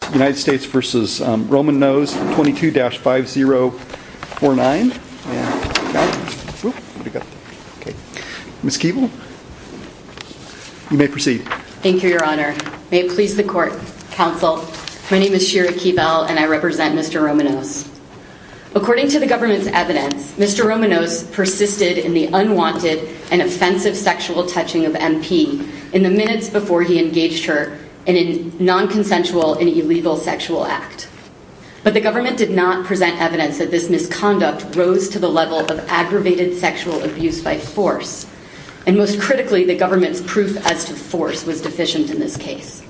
22-5049. Ms. Keeble, you may proceed. Thank you your honor. May it please the court, counsel. My name is Shira Keeble and I represent Mr. Romannose. According to the government's evidence, Mr. Romannose persisted in the unwanted and offensive sexual touching of MP in the minutes before he engaged her in a non-consensual and illegal sexual act. But the government did not present evidence that this misconduct rose to the level of aggravated sexual abuse by force. And most critically, the government's proof as to force was deficient in this case.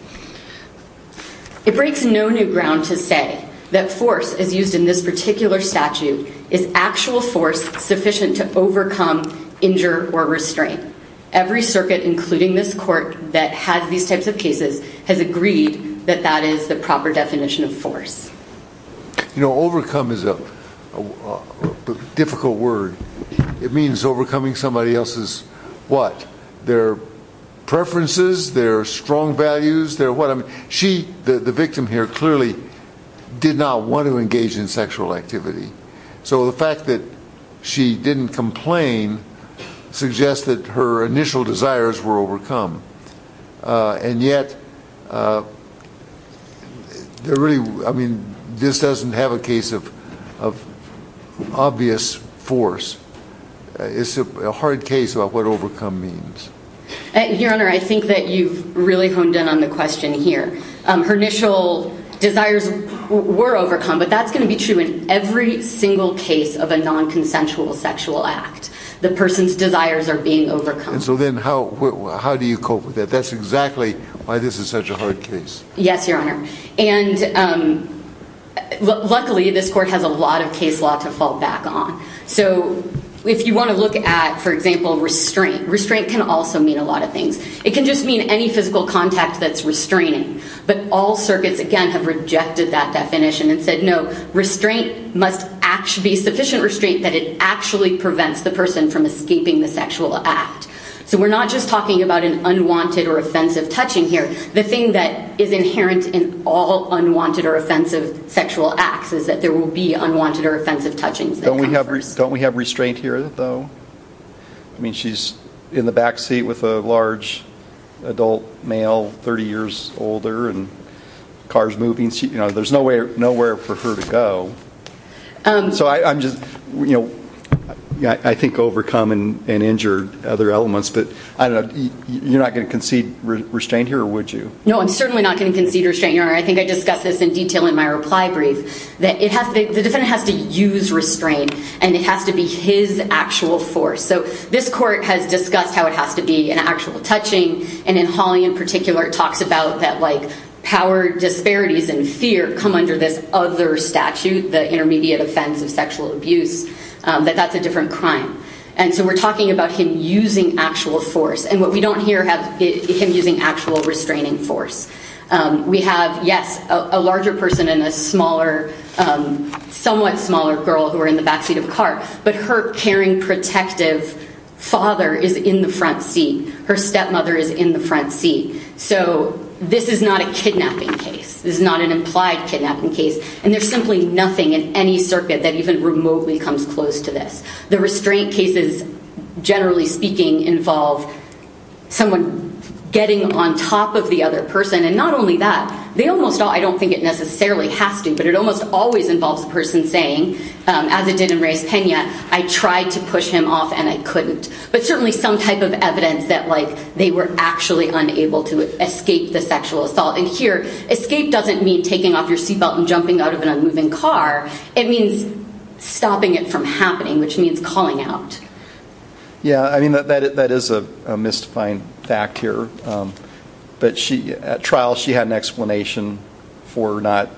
It breaks no new ground to say that force as used in this particular statute is actual force sufficient to overcome, injure, or restrain. Every circuit, including this court, that has these types of cases has agreed that that is the proper definition of force. You know, overcome is a difficult word. It means overcoming somebody else's what? Their preferences, their strong values, their what? I mean, she, the victim here, clearly did not want to engage in sexual activity. So the fact that she didn't complain suggests that her initial desires were overcome. And yet, they're really, I mean, this doesn't have a case of obvious force. It's a hard case about what overcome means. Your Honor, I think that you've really honed in on the question here. Her initial desires were overcome, but that's going to be true in every single case of a non-consensual sexual act. The person's desires are being overcome. And so then how do you cope with that? That's exactly why this is such a hard case. Yes, Your Honor. And luckily, this court has a lot of case law to fall back on. So if you want to look at, for example, restraint. Restraint can also mean a lot of things. It can just mean any physical contact that's restraining. But all circuits, again, have rejected that definition and said, no, restraint must be sufficient restraint that it actually prevents the person from escaping the sexual act. So we're not just talking about an unwanted or offensive touching here. The thing that is inherent in all unwanted or offensive sexual acts is that there will be unwanted or offensive touchings. Don't we have restraint here, though? I mean, she's in the back seat with a large adult male, 30 years older, and the car's moving. There's nowhere for her to go. So I think overcome and injured are other elements. But you're not going to concede restraint here, or would you? No, I'm certainly not going to concede restraint, Your Honor. I think I discussed this in detail in my reply brief, that the defendant has to use restraint. And it has to be his actual force. So this court has discussed how it has to be an actual touching. And in Hawley, in particular, it talks about that power disparities and fear come under this other statute, the intermediate offense of sexual abuse, that that's a different crime. And so we're talking about him using actual force. And what we don't hear is him using actual restraining force. We have, yes, a larger person and a somewhat smaller girl who are in the back seat of a car. But her caring, protective father is in the front seat. Her stepmother is in the front seat. So this is not a kidnapping case. This is not an implied kidnapping case. And there's simply nothing in any circuit that even remotely comes close to this. The restraint cases, generally speaking, involve someone getting on top of the other person. And not only that, they almost all, I don't think it necessarily has to, but it almost always involves a person saying, as it did in Reyes-Pena, I tried to push him off and I couldn't. But certainly some type of evidence that they were actually unable to escape the sexual assault. And here, escape doesn't mean taking off your seatbelt and it means calling out. Yeah, I mean, that is a mystifying fact here. But at trial, she had an explanation for not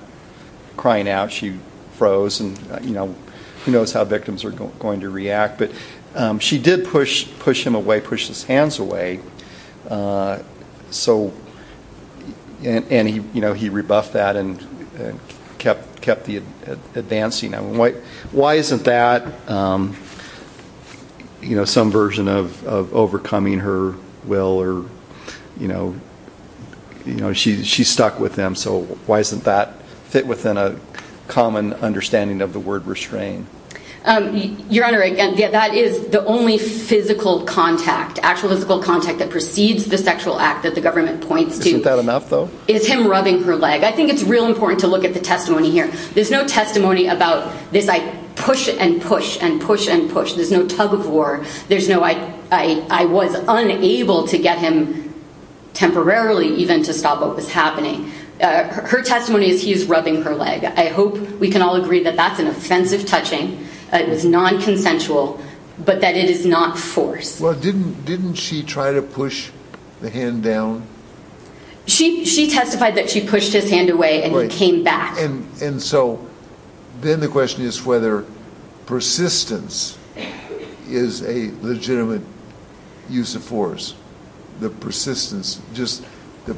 crying out. She froze and who knows how victims are going to react. But she did push him away, pushed his hands away. And he rebuffed that and kept advancing. Why isn't that some version of overcoming her will? She's stuck with him, so why isn't that fit within a common understanding of the word restraint? Your Honor, again, that is the only physical contact, actual physical contact that precedes the sexual act that the government points to. Isn't that enough though? It's him rubbing her leg. I think it's real important to look at the testimony here. There's no testimony about this, I push and push and push and push. There's no tug of war. There's no, I was unable to get him temporarily even to stop what was happening. Her testimony is he's rubbing her leg. I hope we can all agree that that's an offensive touching. It is non-consensual, but that it is not force. Well, didn't she try to push the hand down? She testified that she pushed his hand away and he came back. And so then the question is whether persistence is a legitimate use of force. The persistence, just the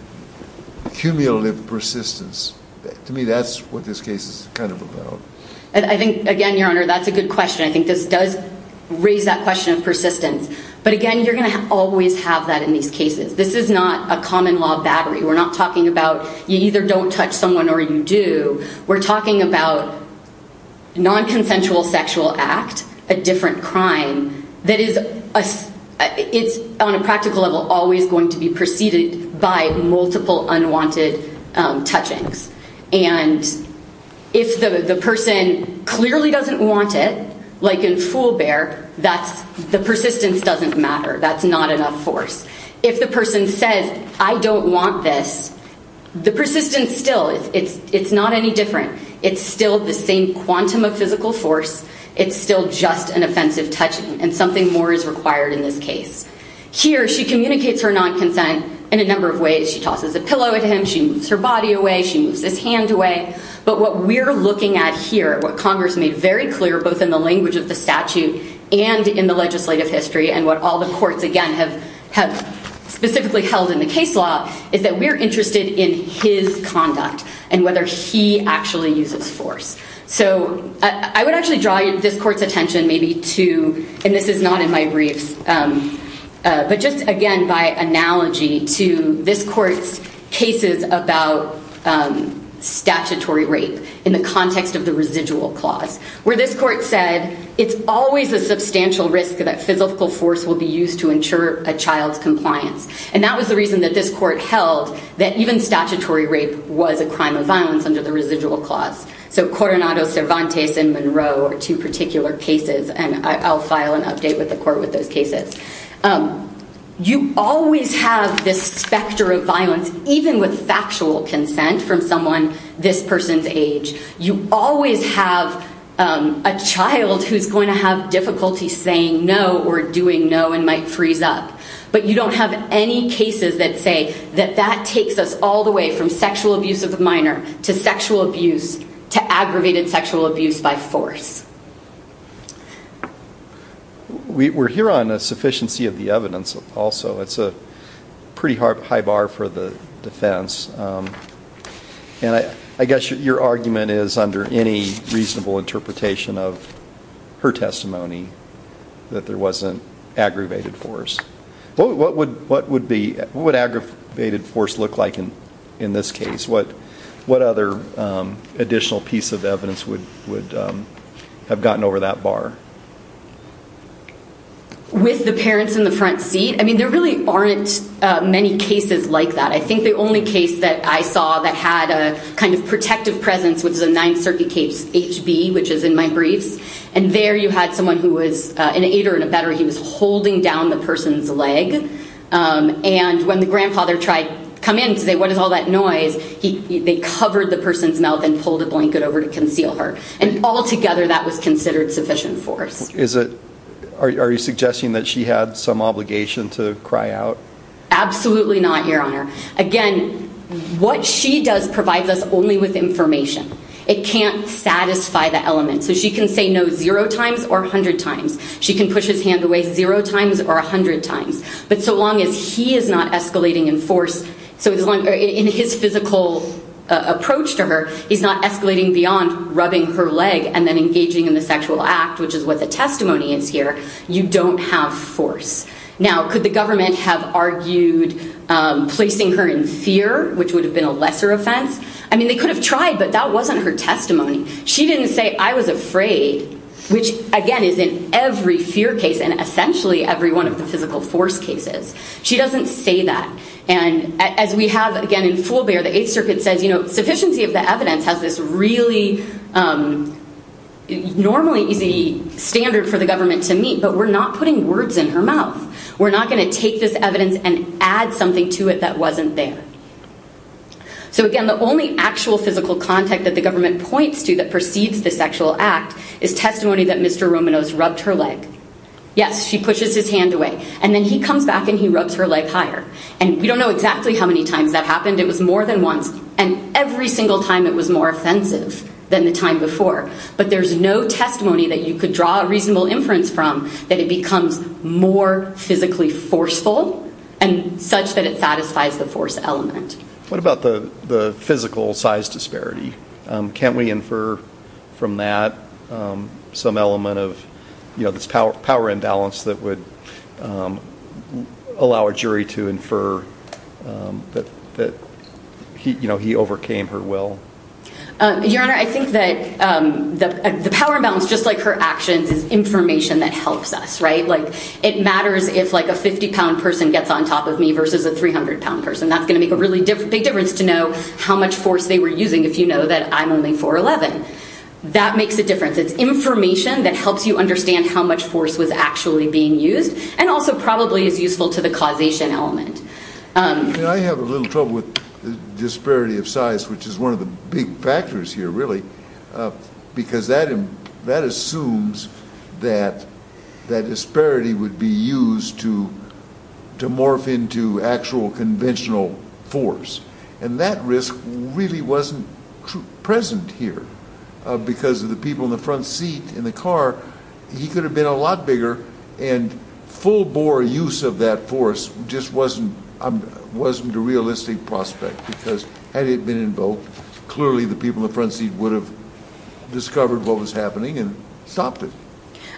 cumulative persistence. To me, that's what this case is kind of about. I think, again, Your Honor, that's a good question. I think this does raise that question of persistence. But again, you're going to always have that in these cases. This is not a common law battery. We're not talking about you either don't touch someone or you do. We're talking about non-consensual sexual act, a different crime that is on a practical level always going to be preceded by multiple unwanted touchings. And if the person clearly doesn't want it, like in Fool Bear, the persistence doesn't matter. That's not enough force. If the person says, I don't want this, the persistence still, it's not any different. It's still the same quantum of physical force. It's still just an offensive touching. And so here, she communicates her non-consent in a number of ways. She tosses a pillow at him. She moves her body away. She moves his hand away. But what we're looking at here, what Congress made very clear, both in the language of the statute and in the legislative history, and what all the courts, again, have specifically held in the case law, is that we're interested in his conduct and whether he actually uses force. So I would actually draw this court's attention maybe to, and this is not in my briefs, but just again by analogy to this court's cases about statutory rape in the context of the residual clause, where this court said, it's always a substantial risk that physical force will be used to ensure a child's compliance. And that was the reason that this court held that even statutory rape was a crime of violence under the residual clause. So Coronado Cervantes and Monroe are two particular cases, and I'll file an update with the court with those cases. You always have this specter of violence, even with factual consent from someone this person's age. You always have a child who's going to have difficulty saying no or doing no and might freeze up. But you don't have any cases that say that that takes us all the way from sexual abuse of a minor to sexual abuse to aggravated sexual abuse by force. We're here on a sufficiency of the evidence also. It's a pretty high bar for the defense. And I guess your argument is, under any reasonable interpretation of her testimony, that there wasn't aggravated force. What would aggravated force look like in this case? What other additional piece of evidence would have gotten over that bar? With the parents in the front seat, I mean, there really aren't many cases like that. I think the only case that I saw that had a kind of protective presence, which is a holding down the person's leg. And when the grandfather tried to come in to say, what is all that noise, they covered the person's mouth and pulled a blanket over to conceal her. And altogether, that was considered sufficient force. Are you suggesting that she had some obligation to cry out? Absolutely not, Your Honor. Again, what she does provides us only with information. It can't satisfy the element. So she can say no zero times or a hundred times. She can push his hand away zero times or a hundred times. But so long as he is not escalating in force, in his physical approach to her, he's not escalating beyond rubbing her leg and then engaging in the sexual act, which is what the testimony is here, you don't have force. Now, could the government have argued placing her in fear, which would have been a lesser offense? I mean, they could have tried, but that wasn't her testimony. She didn't say, I was afraid, which, again, is in every fear case and essentially every one of the physical force cases. She doesn't say that. And as we have, again, in Full Bear, the Eighth Circuit says, you know, sufficiency of the evidence has this really normally easy standard for the government to meet, but we're not putting words in her mouth. We're not going to take this evidence and add something to it that wasn't there. So, again, the only actual physical contact that the government points to that precedes the sexual act is testimony that Mr. Romanos rubbed her leg. Yes, she pushes his hand away, and then he comes back and he rubs her leg higher. And we don't know exactly how many times that happened. It was more than once, and every single time it was more offensive than the time before. But there's no testimony that you could draw a reasonable inference from that it becomes more physically forceful and such that it satisfies the force element. What about the physical size disparity? Can't we infer from that some element of, you know, this power imbalance that would allow a jury to infer that, you know, he overcame her will? Your Honor, I think that the power imbalance, just like her actions, is information that helps us, right? Like, it matters if, like, a 50-pound person gets on top of me versus a 300-pound person. That's going to make a really big difference to know how much force they were using if you know that I'm only 4'11". That makes a difference. It's information that helps you understand how much force was actually being used and also probably is useful to the causation element. I have a little trouble with the disparity of size, which is one of the big factors here, really, because that assumes that that disparity would be used to morph into actual conventional force. And that risk really wasn't present here. Because of the people in the front seat in the car, he could have been a lot bigger, and full-bore use of that force just wasn't a realistic prospect, because had it been invoked, clearly the people in the front seat would have discovered what was happening and stopped it.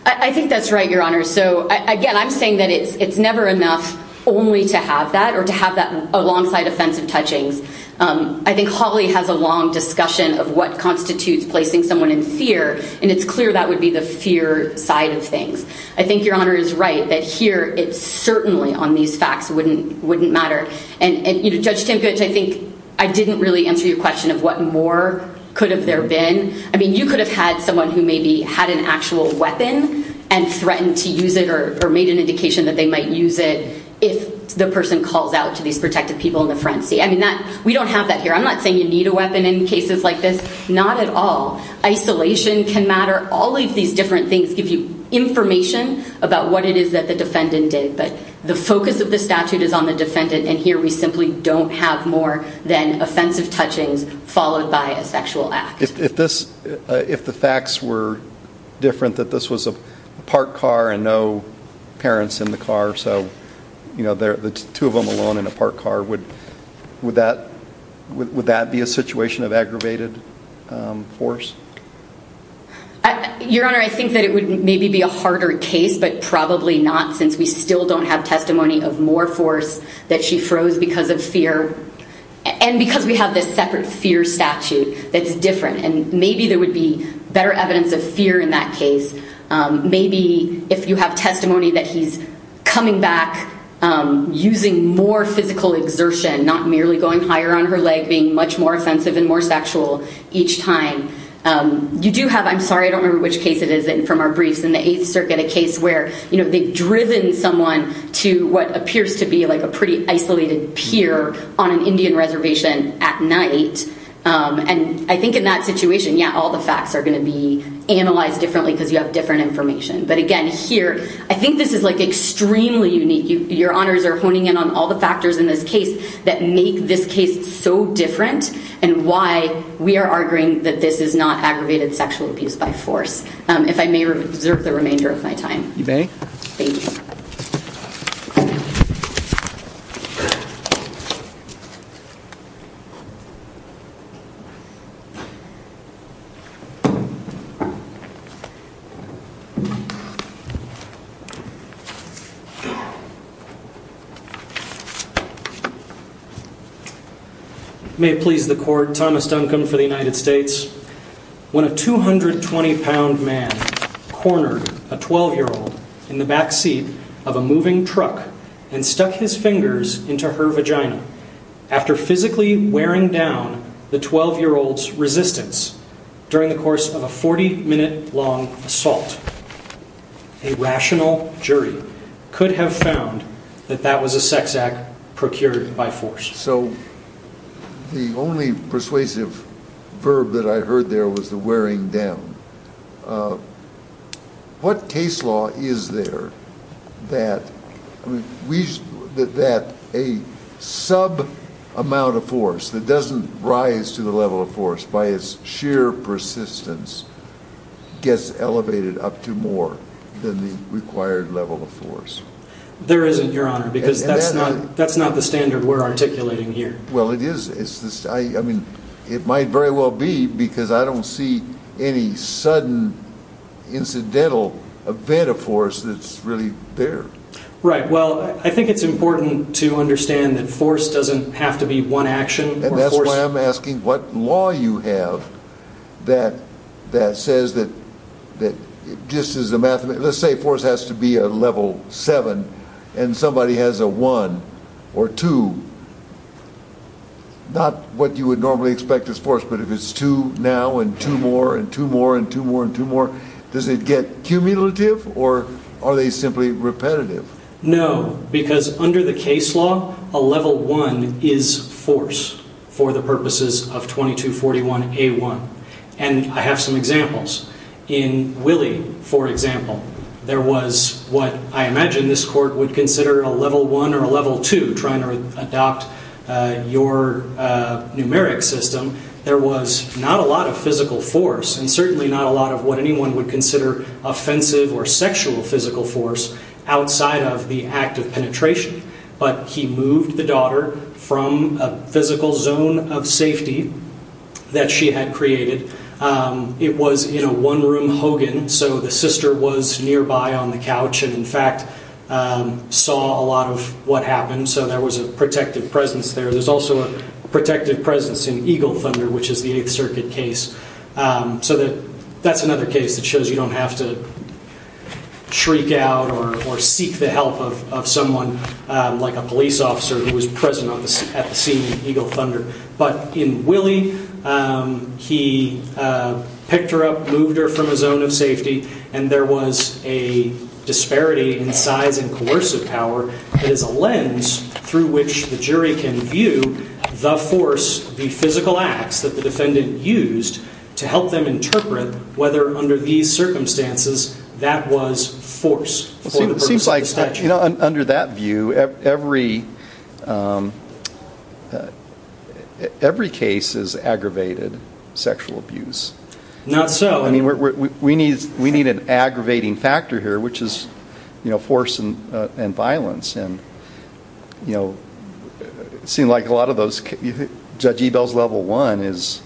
I think that's right, Your Honor. So, again, I'm saying that it's never enough only to have that or to have that alongside offensive touchings. I think Hawley has a long discussion of what constitutes placing someone in fear, and it's clear that would be the fear side of things. I think Your Honor is right that here, it certainly, on these facts, wouldn't matter. And, Judge Tampich, I think I didn't really answer your question of what more could have there been. I mean, you could have had someone who maybe had an actual weapon and threatened to use it or made an indication that they might use it if the person calls out to these protected people in the front seat. I mean, we don't have that here. I'm not saying you need a weapon in cases like this. Not at all. Isolation can matter. All of these different things give you information about what it is that the defendant did, but the focus of the statute is on the defendant, and here we simply don't have more than offensive touchings followed by a sexual act. If the facts were different, that this was a parked car and no parents in the car, so the two of them alone in a parked car, would that be a situation of aggravated force? Your Honor, I think that it would maybe be a harder case, but probably not since we still don't have testimony of more force that she froze because of fear, and because we have this separate fear statute that's different, and maybe there would be better evidence of fear in that case. Maybe if you have testimony that he's coming back using more physical exertion, not merely going higher on her leg, being much more offensive and more sexual each time, you do have, I'm sorry, I don't remember which case it is from our briefs, in the Eighth Circuit, a case where they've driven someone to what appears to be a pretty isolated pier on an Indian reservation at night, and I think in that situation, yeah, all the facts are going to be analyzed differently because you have different information, but again, here, I think this is extremely unique. Your Honors are honing in on all the factors in this case that make this case so different and why we are arguing that this is not aggravated sexual abuse by force. If I may reserve the remainder of my time. You may. Thank you. May it please the Court. Thomas Duncan for the United States. When a 220-pound man cornered a 12-year-old in the backseat of a moving truck and stuck his fingers into her vagina, after physically wearing down the 12-year-old's resistance during the course of a 40-minute-long assault, a rational jury could have found that that was a sex act procured by force. So the only persuasive verb that I heard there was the wearing down. What case law is there that a sub-amount of force that doesn't rise to the level of force by its sheer persistence gets elevated up to more than the required level of force? There isn't, Your Honor, because that's not the standard we're articulating here. Well, it is. I mean, it might very well be, because I don't see any sudden incidental event of force that's really there. Right. Well, I think it's important to understand that force doesn't have to be one action. And that's why I'm asking what law you have that says that just as a mathematical, let's say force has to be a level 7 and somebody has a 1 or 2, not what you would normally expect as force, but if it's 2 now and 2 more and 2 more and 2 more and 2 more, does it get cumulative or are they simply repetitive? No, because under the case law, a level 1 is force for the purposes of 2241A1. And I have some examples. In Willie, for example, there was what I imagine this court would consider a level 1 or a level 2, trying to adopt your numeric system. There was not a lot of physical force and certainly not a lot of what anyone would consider offensive or sexual physical force outside of the act of penetration. But he moved the daughter from a physical zone of safety that she had created. It was in a one-room Hogan, so the sister was nearby on the couch and, in fact, saw a lot of what happened. So there was a protective presence there. There's also a protective presence in Eagle Thunder, which is the 8th Circuit case. So that's another case that shows you don't have to shriek out or seek the help of someone like a police officer who was present at the scene in Eagle Thunder. But in Willie, he picked her up, moved her from a zone of safety, and there was a disparity in size and coercive power that is a lens through which the jury can view the force, the physical acts that the defendant used to help them interpret whether under these circumstances that was force for the purpose of the statute. You know, under that view, every case is aggravated sexual abuse. Not so. I mean, we need an aggravating factor here, which is force and violence. And, you know, it seemed like a lot of those... Judge Ebell's level one is,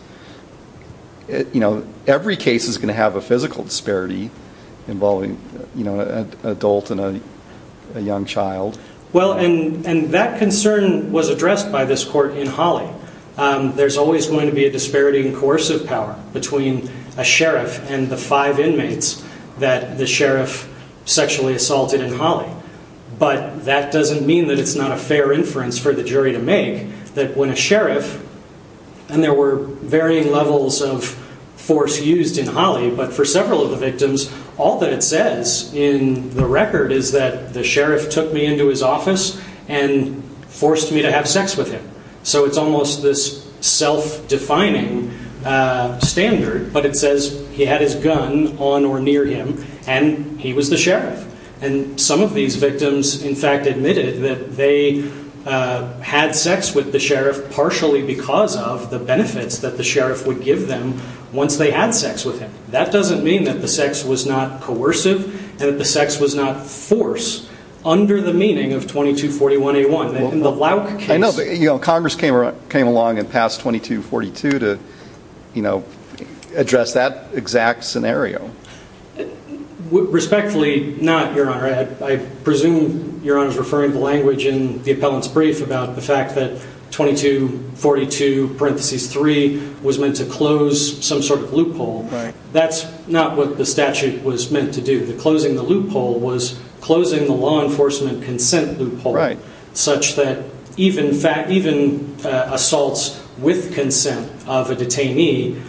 you know, every case is going to have a physical disparity involving, you know, an adult and a young child. Well, and that concern was addressed by this court in Holly. There's always going to be a disparity in coercive power between a sheriff and the five inmates that the sheriff sexually assaulted in Holly. But that doesn't mean that it's not a fair inference for the jury to make that when a sheriff, and there were varying levels of force used in Holly, but for several of the victims, all that it says in the record is that the sheriff took me into his office and forced me to have sex with him. So it's almost this self-defining standard. But it says he had his gun on or near him, and he was the sheriff. And some of these victims, in fact, admitted that they had sex with the sheriff partially because of the benefits that the sheriff would give them once they had sex with him. That doesn't mean that the sex was not coercive and that the sex was not force under the meaning of 2241A1. In the Louk case... I know, but Congress came along and passed 2242 to, you know, address that exact scenario. Respectfully, not, Your Honor. that 2242-3 was meant to close some sort of loophole. That's not what the statute was meant to do. Closing the loophole was closing the law enforcement consent loophole such that even assaults with consent of a detainee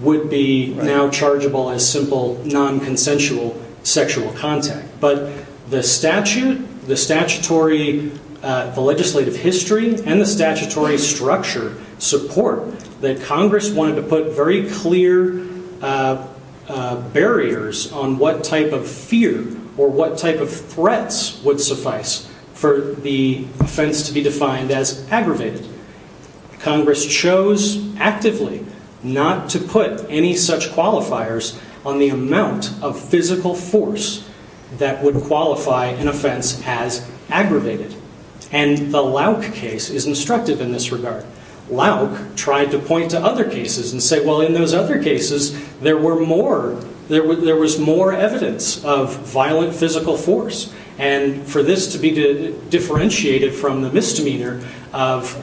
would be now chargeable as simple non-consensual sexual contact. But the statute, the statutory legislative history, and the statutory structure support that Congress wanted to put very clear barriers on what type of fear or what type of threats would suffice for the offense to be defined as aggravated. Congress chose actively not to put any such qualifiers on the amount of physical force that would qualify an offense as aggravated. And the Louk case is instructive in this regard. Louk tried to point to other cases and say, well, in those other cases, there was more evidence of violent physical force. And for this to be differentiated from the misdemeanor of...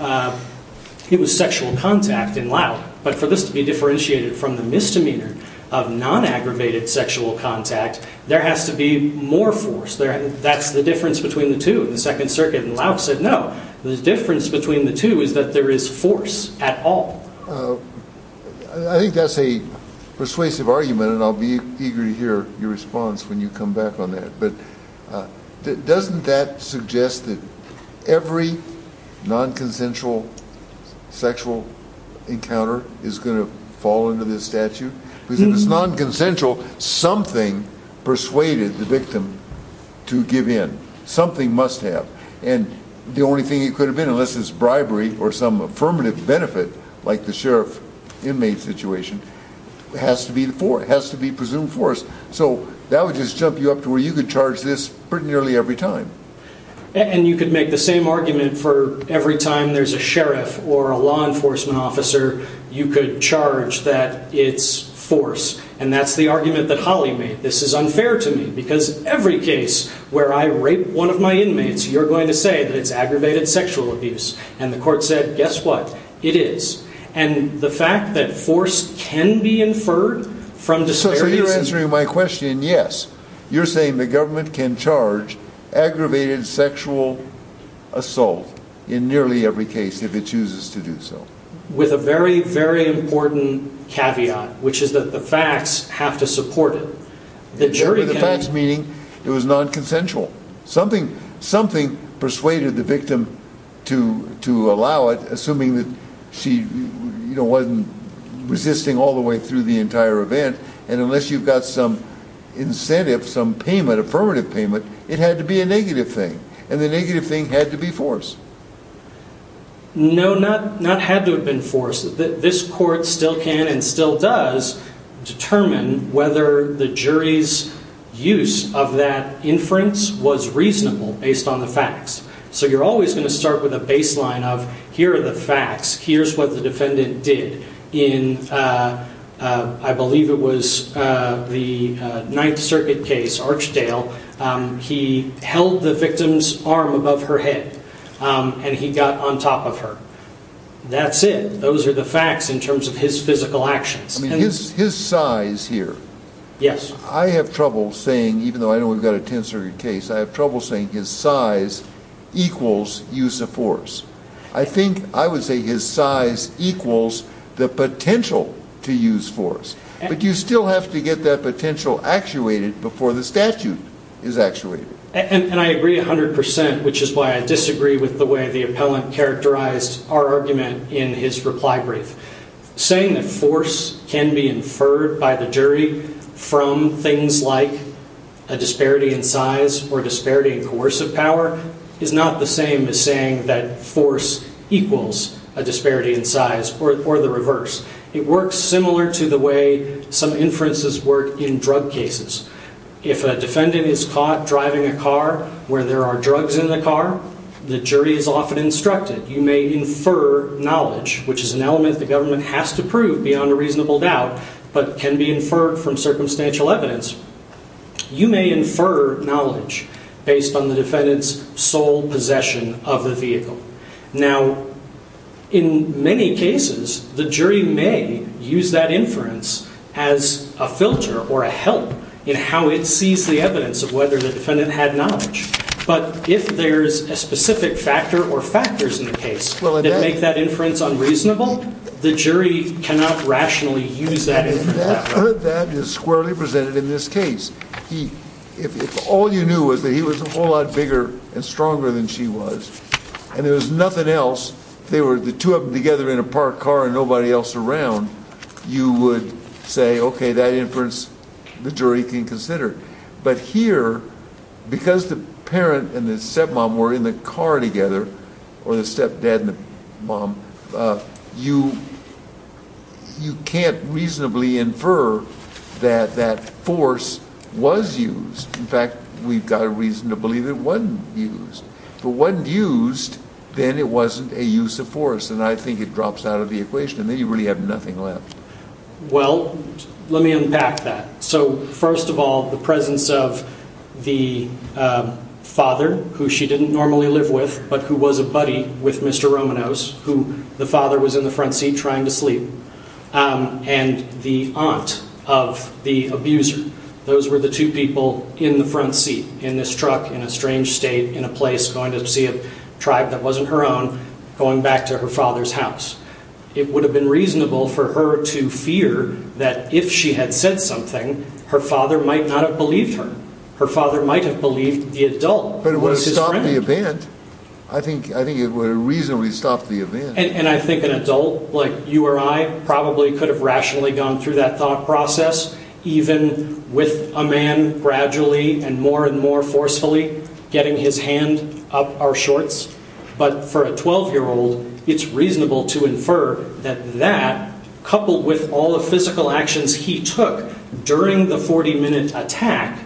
It was sexual contact in Louk. But for this to be differentiated from the misdemeanor of non-aggravated sexual contact, there has to be more force. That's the difference between the two. The Second Circuit in Louk said no. The difference between the two is that there is force at all. I think that's a persuasive argument, and I'll be eager to hear your response when you come back on that. But doesn't that suggest that every non-consensual sexual encounter is going to fall under this statute? Because if it's non-consensual, something persuaded the victim to give in. Something must have. And the only thing it could have been, unless it's bribery or some affirmative benefit, like the sheriff-inmate situation, has to be presumed force. So that would just jump you up to where you could charge this pretty nearly every time. And you could make the same argument for every time there's a sheriff or a law enforcement officer, you could charge that it's force. And that's the argument that Holly made. This is unfair to me, because every case where I rape one of my inmates, you're going to say that it's aggravated sexual abuse. And the court said, guess what? It is. And the fact that force can be inferred from despair... If you're answering my question, yes. You're saying the government can charge aggravated sexual assault in nearly every case if it chooses to do so. With a very, very important caveat, which is that the facts have to support it. Sure, but the facts meaning it was non-consensual. Something persuaded the victim to allow it, assuming that she wasn't resisting all the way through the entire event. And unless you've got some incentive, some payment, affirmative payment, it had to be a negative thing. And the negative thing had to be force. No, not had to have been force. This court still can and still does determine whether the jury's use of that inference was reasonable based on the facts. So you're always going to start with a baseline of, here are the facts, here's what the defendant did. I believe it was the Ninth Circuit case, Archdale. He held the victim's arm above her head and he got on top of her. That's it. Those are the facts in terms of his physical actions. His size here. Yes. I have trouble saying, even though I know we've got a Tenth Circuit case, I have trouble saying his size equals use of force. I think I would say his size equals the potential to use force. But you still have to get that potential actuated before the statute is actuated. And I agree 100%, which is why I disagree with the way the appellant characterized our argument in his reply brief. Saying that force can be inferred by the jury from things like a disparity in size or disparity in coercive power is not the same as saying that force equals a disparity in size or the reverse. It works similar to the way some inferences work in drug cases. If a defendant is caught driving a car where there are drugs in the car, the jury is often instructed. You may infer knowledge, which is an element the government has to prove beyond a reasonable doubt, but can be inferred from circumstantial evidence. You may infer knowledge based on the defendant's sole possession of the vehicle. Now, in many cases, the jury may use that inference as a filter or a help in how it sees the evidence of whether the defendant had knowledge. But if there's a specific factor or factors in the case that make that inference unreasonable, the jury cannot rationally use that inference that way. That is squarely presented in this case. If all you knew was that he was a whole lot bigger and stronger than she was and there was nothing else, they were the two of them together in a parked car and nobody else around, you would say, okay, that inference the jury can consider. But here, because the parent and the stepmom were in the car together, or the stepdad and the mom, you can't reasonably infer that that force was used. In fact, we've got a reason to believe it wasn't used. If it wasn't used, then it wasn't a use of force, and I think it drops out of the equation. Then you really have nothing left. Well, let me unpack that. So, first of all, the presence of the father, who she didn't normally live with, but who was a buddy with Mr. Romanos, who the father was in the front seat trying to sleep, and the aunt of the abuser. Those were the two people in the front seat in this truck in a strange state in a place going to see a tribe that wasn't her own going back to her father's house. It would have been reasonable for her to fear that if she had said something, her father might not have believed her. Her father might have believed the adult. But it would have stopped the event. I think it would have reasonably stopped the event. And I think an adult like you or I probably could have rationally gone through that thought process, even with a man gradually and more and more forcefully getting his hand up our shorts. But for a 12-year-old, it's reasonable to infer that that, coupled with all the physical actions he took during the 40-minute attack,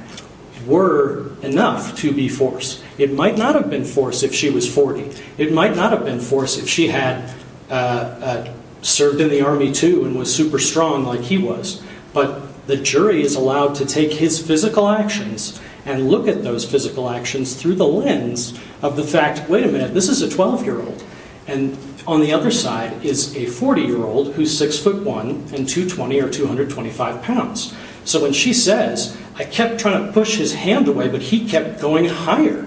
were enough to be force. It might not have been force if she was 40. It might not have been force if she had served in the Army, too, and was super strong like he was. But the jury is allowed to take his physical actions and look at those physical actions through the lens of the fact, wait a minute, this is a 12-year-old. And on the other side is a 40-year-old who's 6'1 and 220 or 225 pounds. So when she says, I kept trying to push his hand away, but he kept going higher,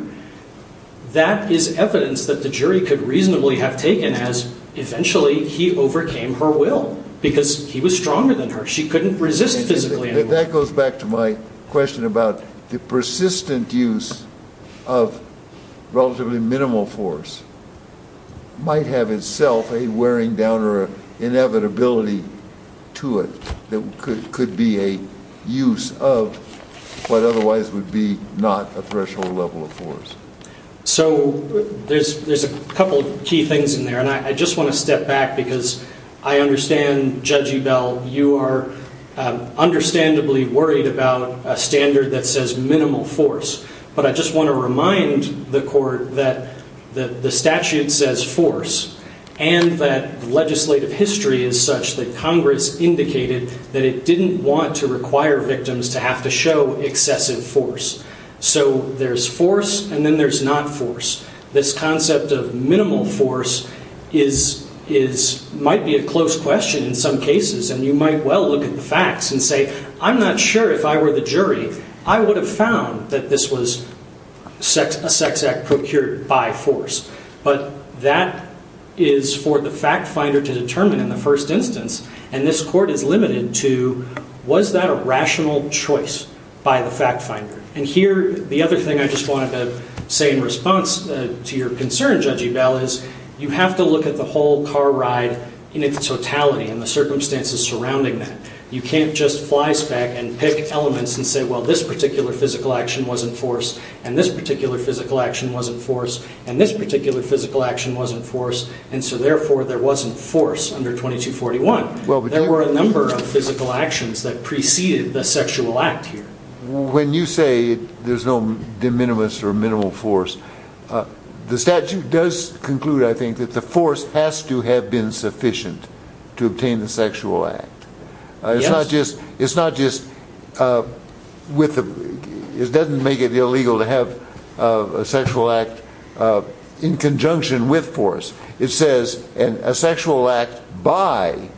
that is evidence that the jury could reasonably have taken as eventually he overcame her will because he was stronger than her. She couldn't resist physically. That goes back to my question about the persistent use of relatively minimal force might have itself a wearing down or an inevitability to it that could be a use of what otherwise would be not a threshold level of force. So there's a couple of key things in there. And I just want to step back because I understand, Judge Ebell, you are understandably worried about a standard that says minimal force. But I just want to remind the court that the statute says force and that legislative history is such that Congress indicated that it didn't want to require victims to have to show excessive force. So there's force and then there's not force. This concept of minimal force might be a close question in some cases. And you might well look at the facts and say, I'm not sure if I were the jury, I would have found that this was a sex act procured by force. But that is for the fact finder to determine in the first instance. And this court is limited to, was that a rational choice by the fact finder? And here, the other thing I just wanted to say in response to your concern, Judge Ebell, is you have to look at the whole car ride in its totality and the circumstances surrounding that. You can't just fly spec and pick elements and say, well, this particular physical action wasn't force and this particular physical action wasn't force and this particular physical action wasn't force. And so, therefore, there wasn't force under 2241. There were a number of physical actions that preceded the sexual act here. When you say there's no de minimis or minimal force, the statute does conclude, I think, that the force has to have been sufficient to obtain the sexual act. It's not just, it doesn't make it illegal to have a sexual act in conjunction with force. It says a sexual act by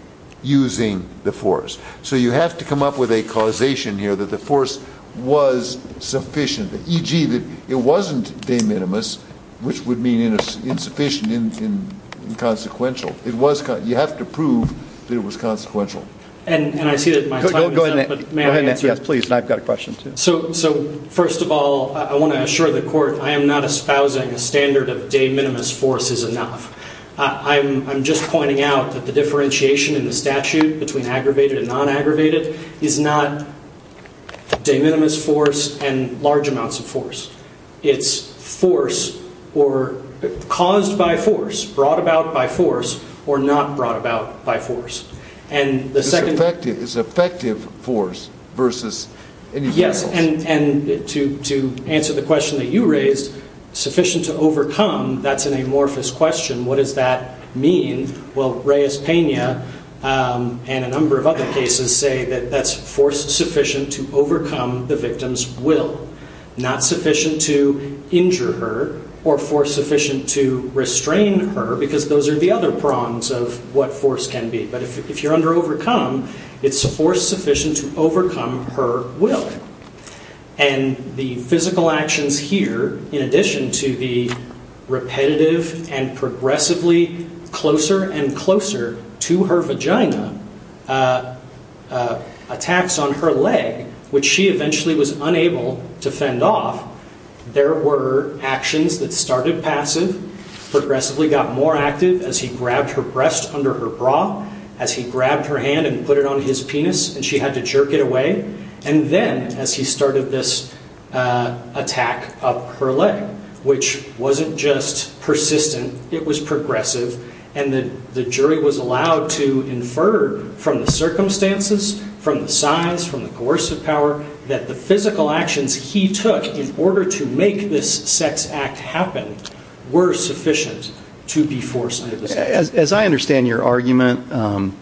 using the force. So you have to come up with a causation here that the force was sufficient, e.g., that it wasn't de minimis, which would mean insufficient and inconsequential. You have to prove that it was consequential. And I see that my time is up, but may I answer? Yes, please. And I've got a question, too. So, first of all, I want to assure the court I am not espousing a standard of de minimis force is enough. I'm just pointing out that the differentiation in the statute between aggravated and non-aggravated is not de minimis force and large amounts of force. It's force or caused by force, brought about by force, or not brought about by force. And the second... It's effective force versus ineffectual force. And to answer the question that you raised, sufficient to overcome, that's an amorphous question. What does that mean? Well, Reyes-Pena and a number of other cases say that that's force sufficient to overcome the victim's will. Not sufficient to injure her or force sufficient to restrain her, because those are the other prongs of what force can be. But if you're under overcome, it's force sufficient to overcome her will. And the physical actions here, in addition to the repetitive and progressively closer and closer to her vagina attacks on her leg, which she eventually was unable to fend off, there were actions that started passive, progressively got more active as he grabbed her breast under her bra, as he grabbed her hand and put it on his penis and she had to jerk it away, and then as he started this attack of her leg, which wasn't just persistent, it was progressive, and the jury was allowed to infer from the circumstances, from the size, from the coercive power, that the physical actions he took in order to make this sex act happen were sufficient to be forced under the statute. As I understand your argument,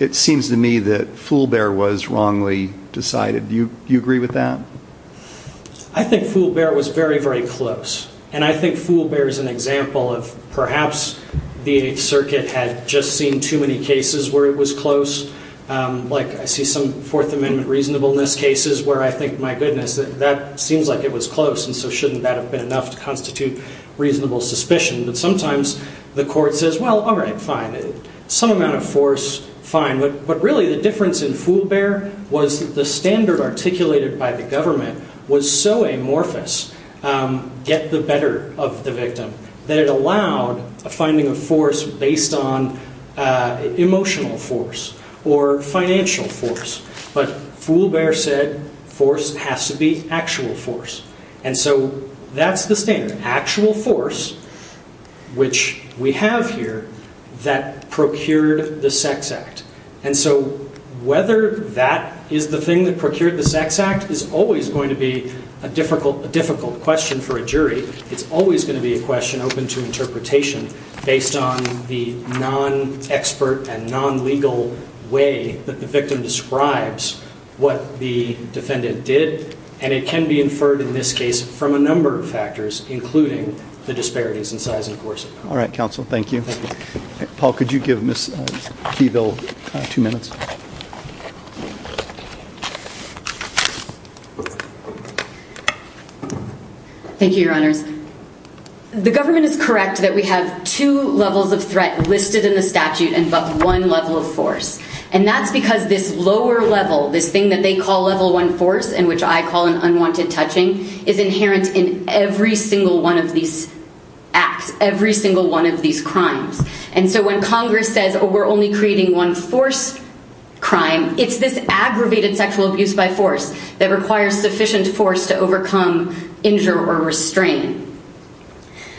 it seems to me that Fulbert was wrongly decided. Do you agree with that? I think Fulbert was very, very close. And I think Fulbert is an example of perhaps the Eighth Circuit had just seen too many cases where it was close. Like, I see some Fourth Amendment reasonableness cases where I think, my goodness, that seems like it was close, and so shouldn't that have been enough to constitute reasonable suspicion? But sometimes the court says, well, all right, fine. Some amount of force, fine. But really the difference in Fulbert was that the standard articulated by the government was so amorphous, get the better of the victim, that it allowed a finding of force based on emotional force or financial force. But Fulbert said force has to be actual force. And so that's the standard. Actual force, which we have here, that procured the sex act. And so whether that is the thing that procured the sex act is always going to be a difficult question for a jury. It's always going to be a question open to interpretation based on the non-expert and non-legal way that the victim describes what the defendant did. And it can be inferred in this case from a number of factors, including the disparities in size and force. All right, counsel. Thank you. Paul, could you give Ms. Keyville two minutes? Thank you, your honors. The government is correct that we have two levels of threat listed in the statute and but one level of force. And that's because this lower level, this thing that they call level one force and which I call an unwanted touching, is inherent in every single one of these acts, every single one of these crimes. And so when Congress says, oh, we're only creating one force crime, it's this aggravated sexual abuse by force that requires sufficient force to overcome, injure or restrain.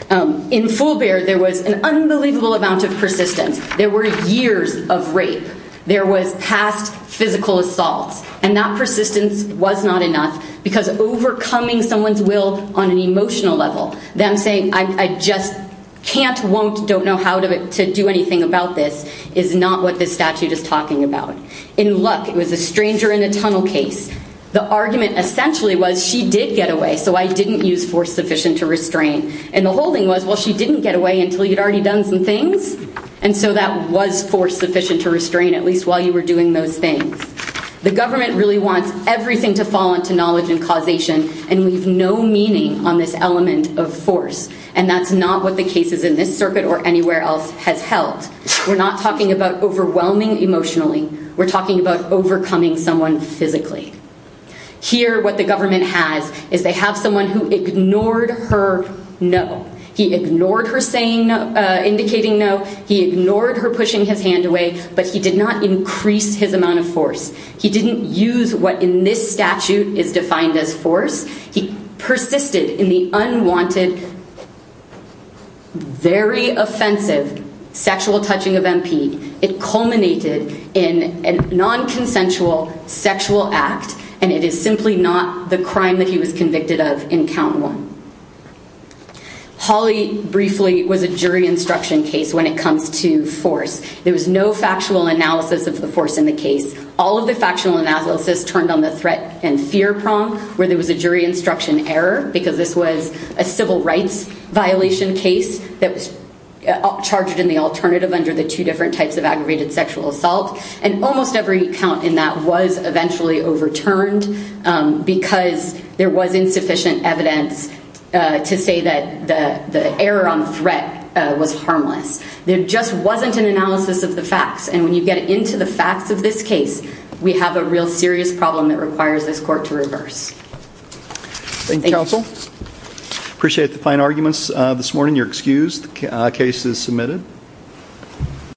In Fulbert, there was an unbelievable amount of persistence. There were years of rape. There was past physical assaults. And that persistence was not enough because overcoming someone's will on an emotional level, them saying, I just can't, won't, don't know how to do anything about this, is not what this statute is talking about. In Luck, it was a stranger in a tunnel case. The argument essentially was she did get away, so I didn't use force sufficient to restrain. And the holding was, well, she didn't get away until you'd already done some things. And so that was force sufficient to restrain, at least while you were doing those things. The government really wants everything to fall into knowledge and causation. And we have no meaning on this element of force. And that's not what the cases in this circuit or anywhere else has held. We're not talking about overwhelming emotionally. We're talking about overcoming someone physically. Here, what the government has is they have someone who ignored her no. He ignored her saying no, indicating no. He ignored her pushing his hand away. But he did not increase his amount of force. He didn't use what in this statute is defined as force. He persisted in the unwanted, very offensive sexual touching of MP. It culminated in a non-consensual sexual act. And it is simply not the crime that he was convicted of in count one. Hawley, briefly, was a jury instruction case when it comes to force. There was no factual analysis of the force in the case. All of the factional analysis turned on the threat and fear prong where there was a jury instruction error because this was a civil rights violation case that was charged in the alternative under the two different types of aggravated sexual assault. And almost every count in that was eventually overturned because there was insufficient evidence to say that the error on threat was harmless. There just wasn't an analysis of the facts. And when you get into the facts of this case, we have a real serious problem that requires this court to reverse. Appreciate the fine arguments this morning. You're excused. The case is submitted.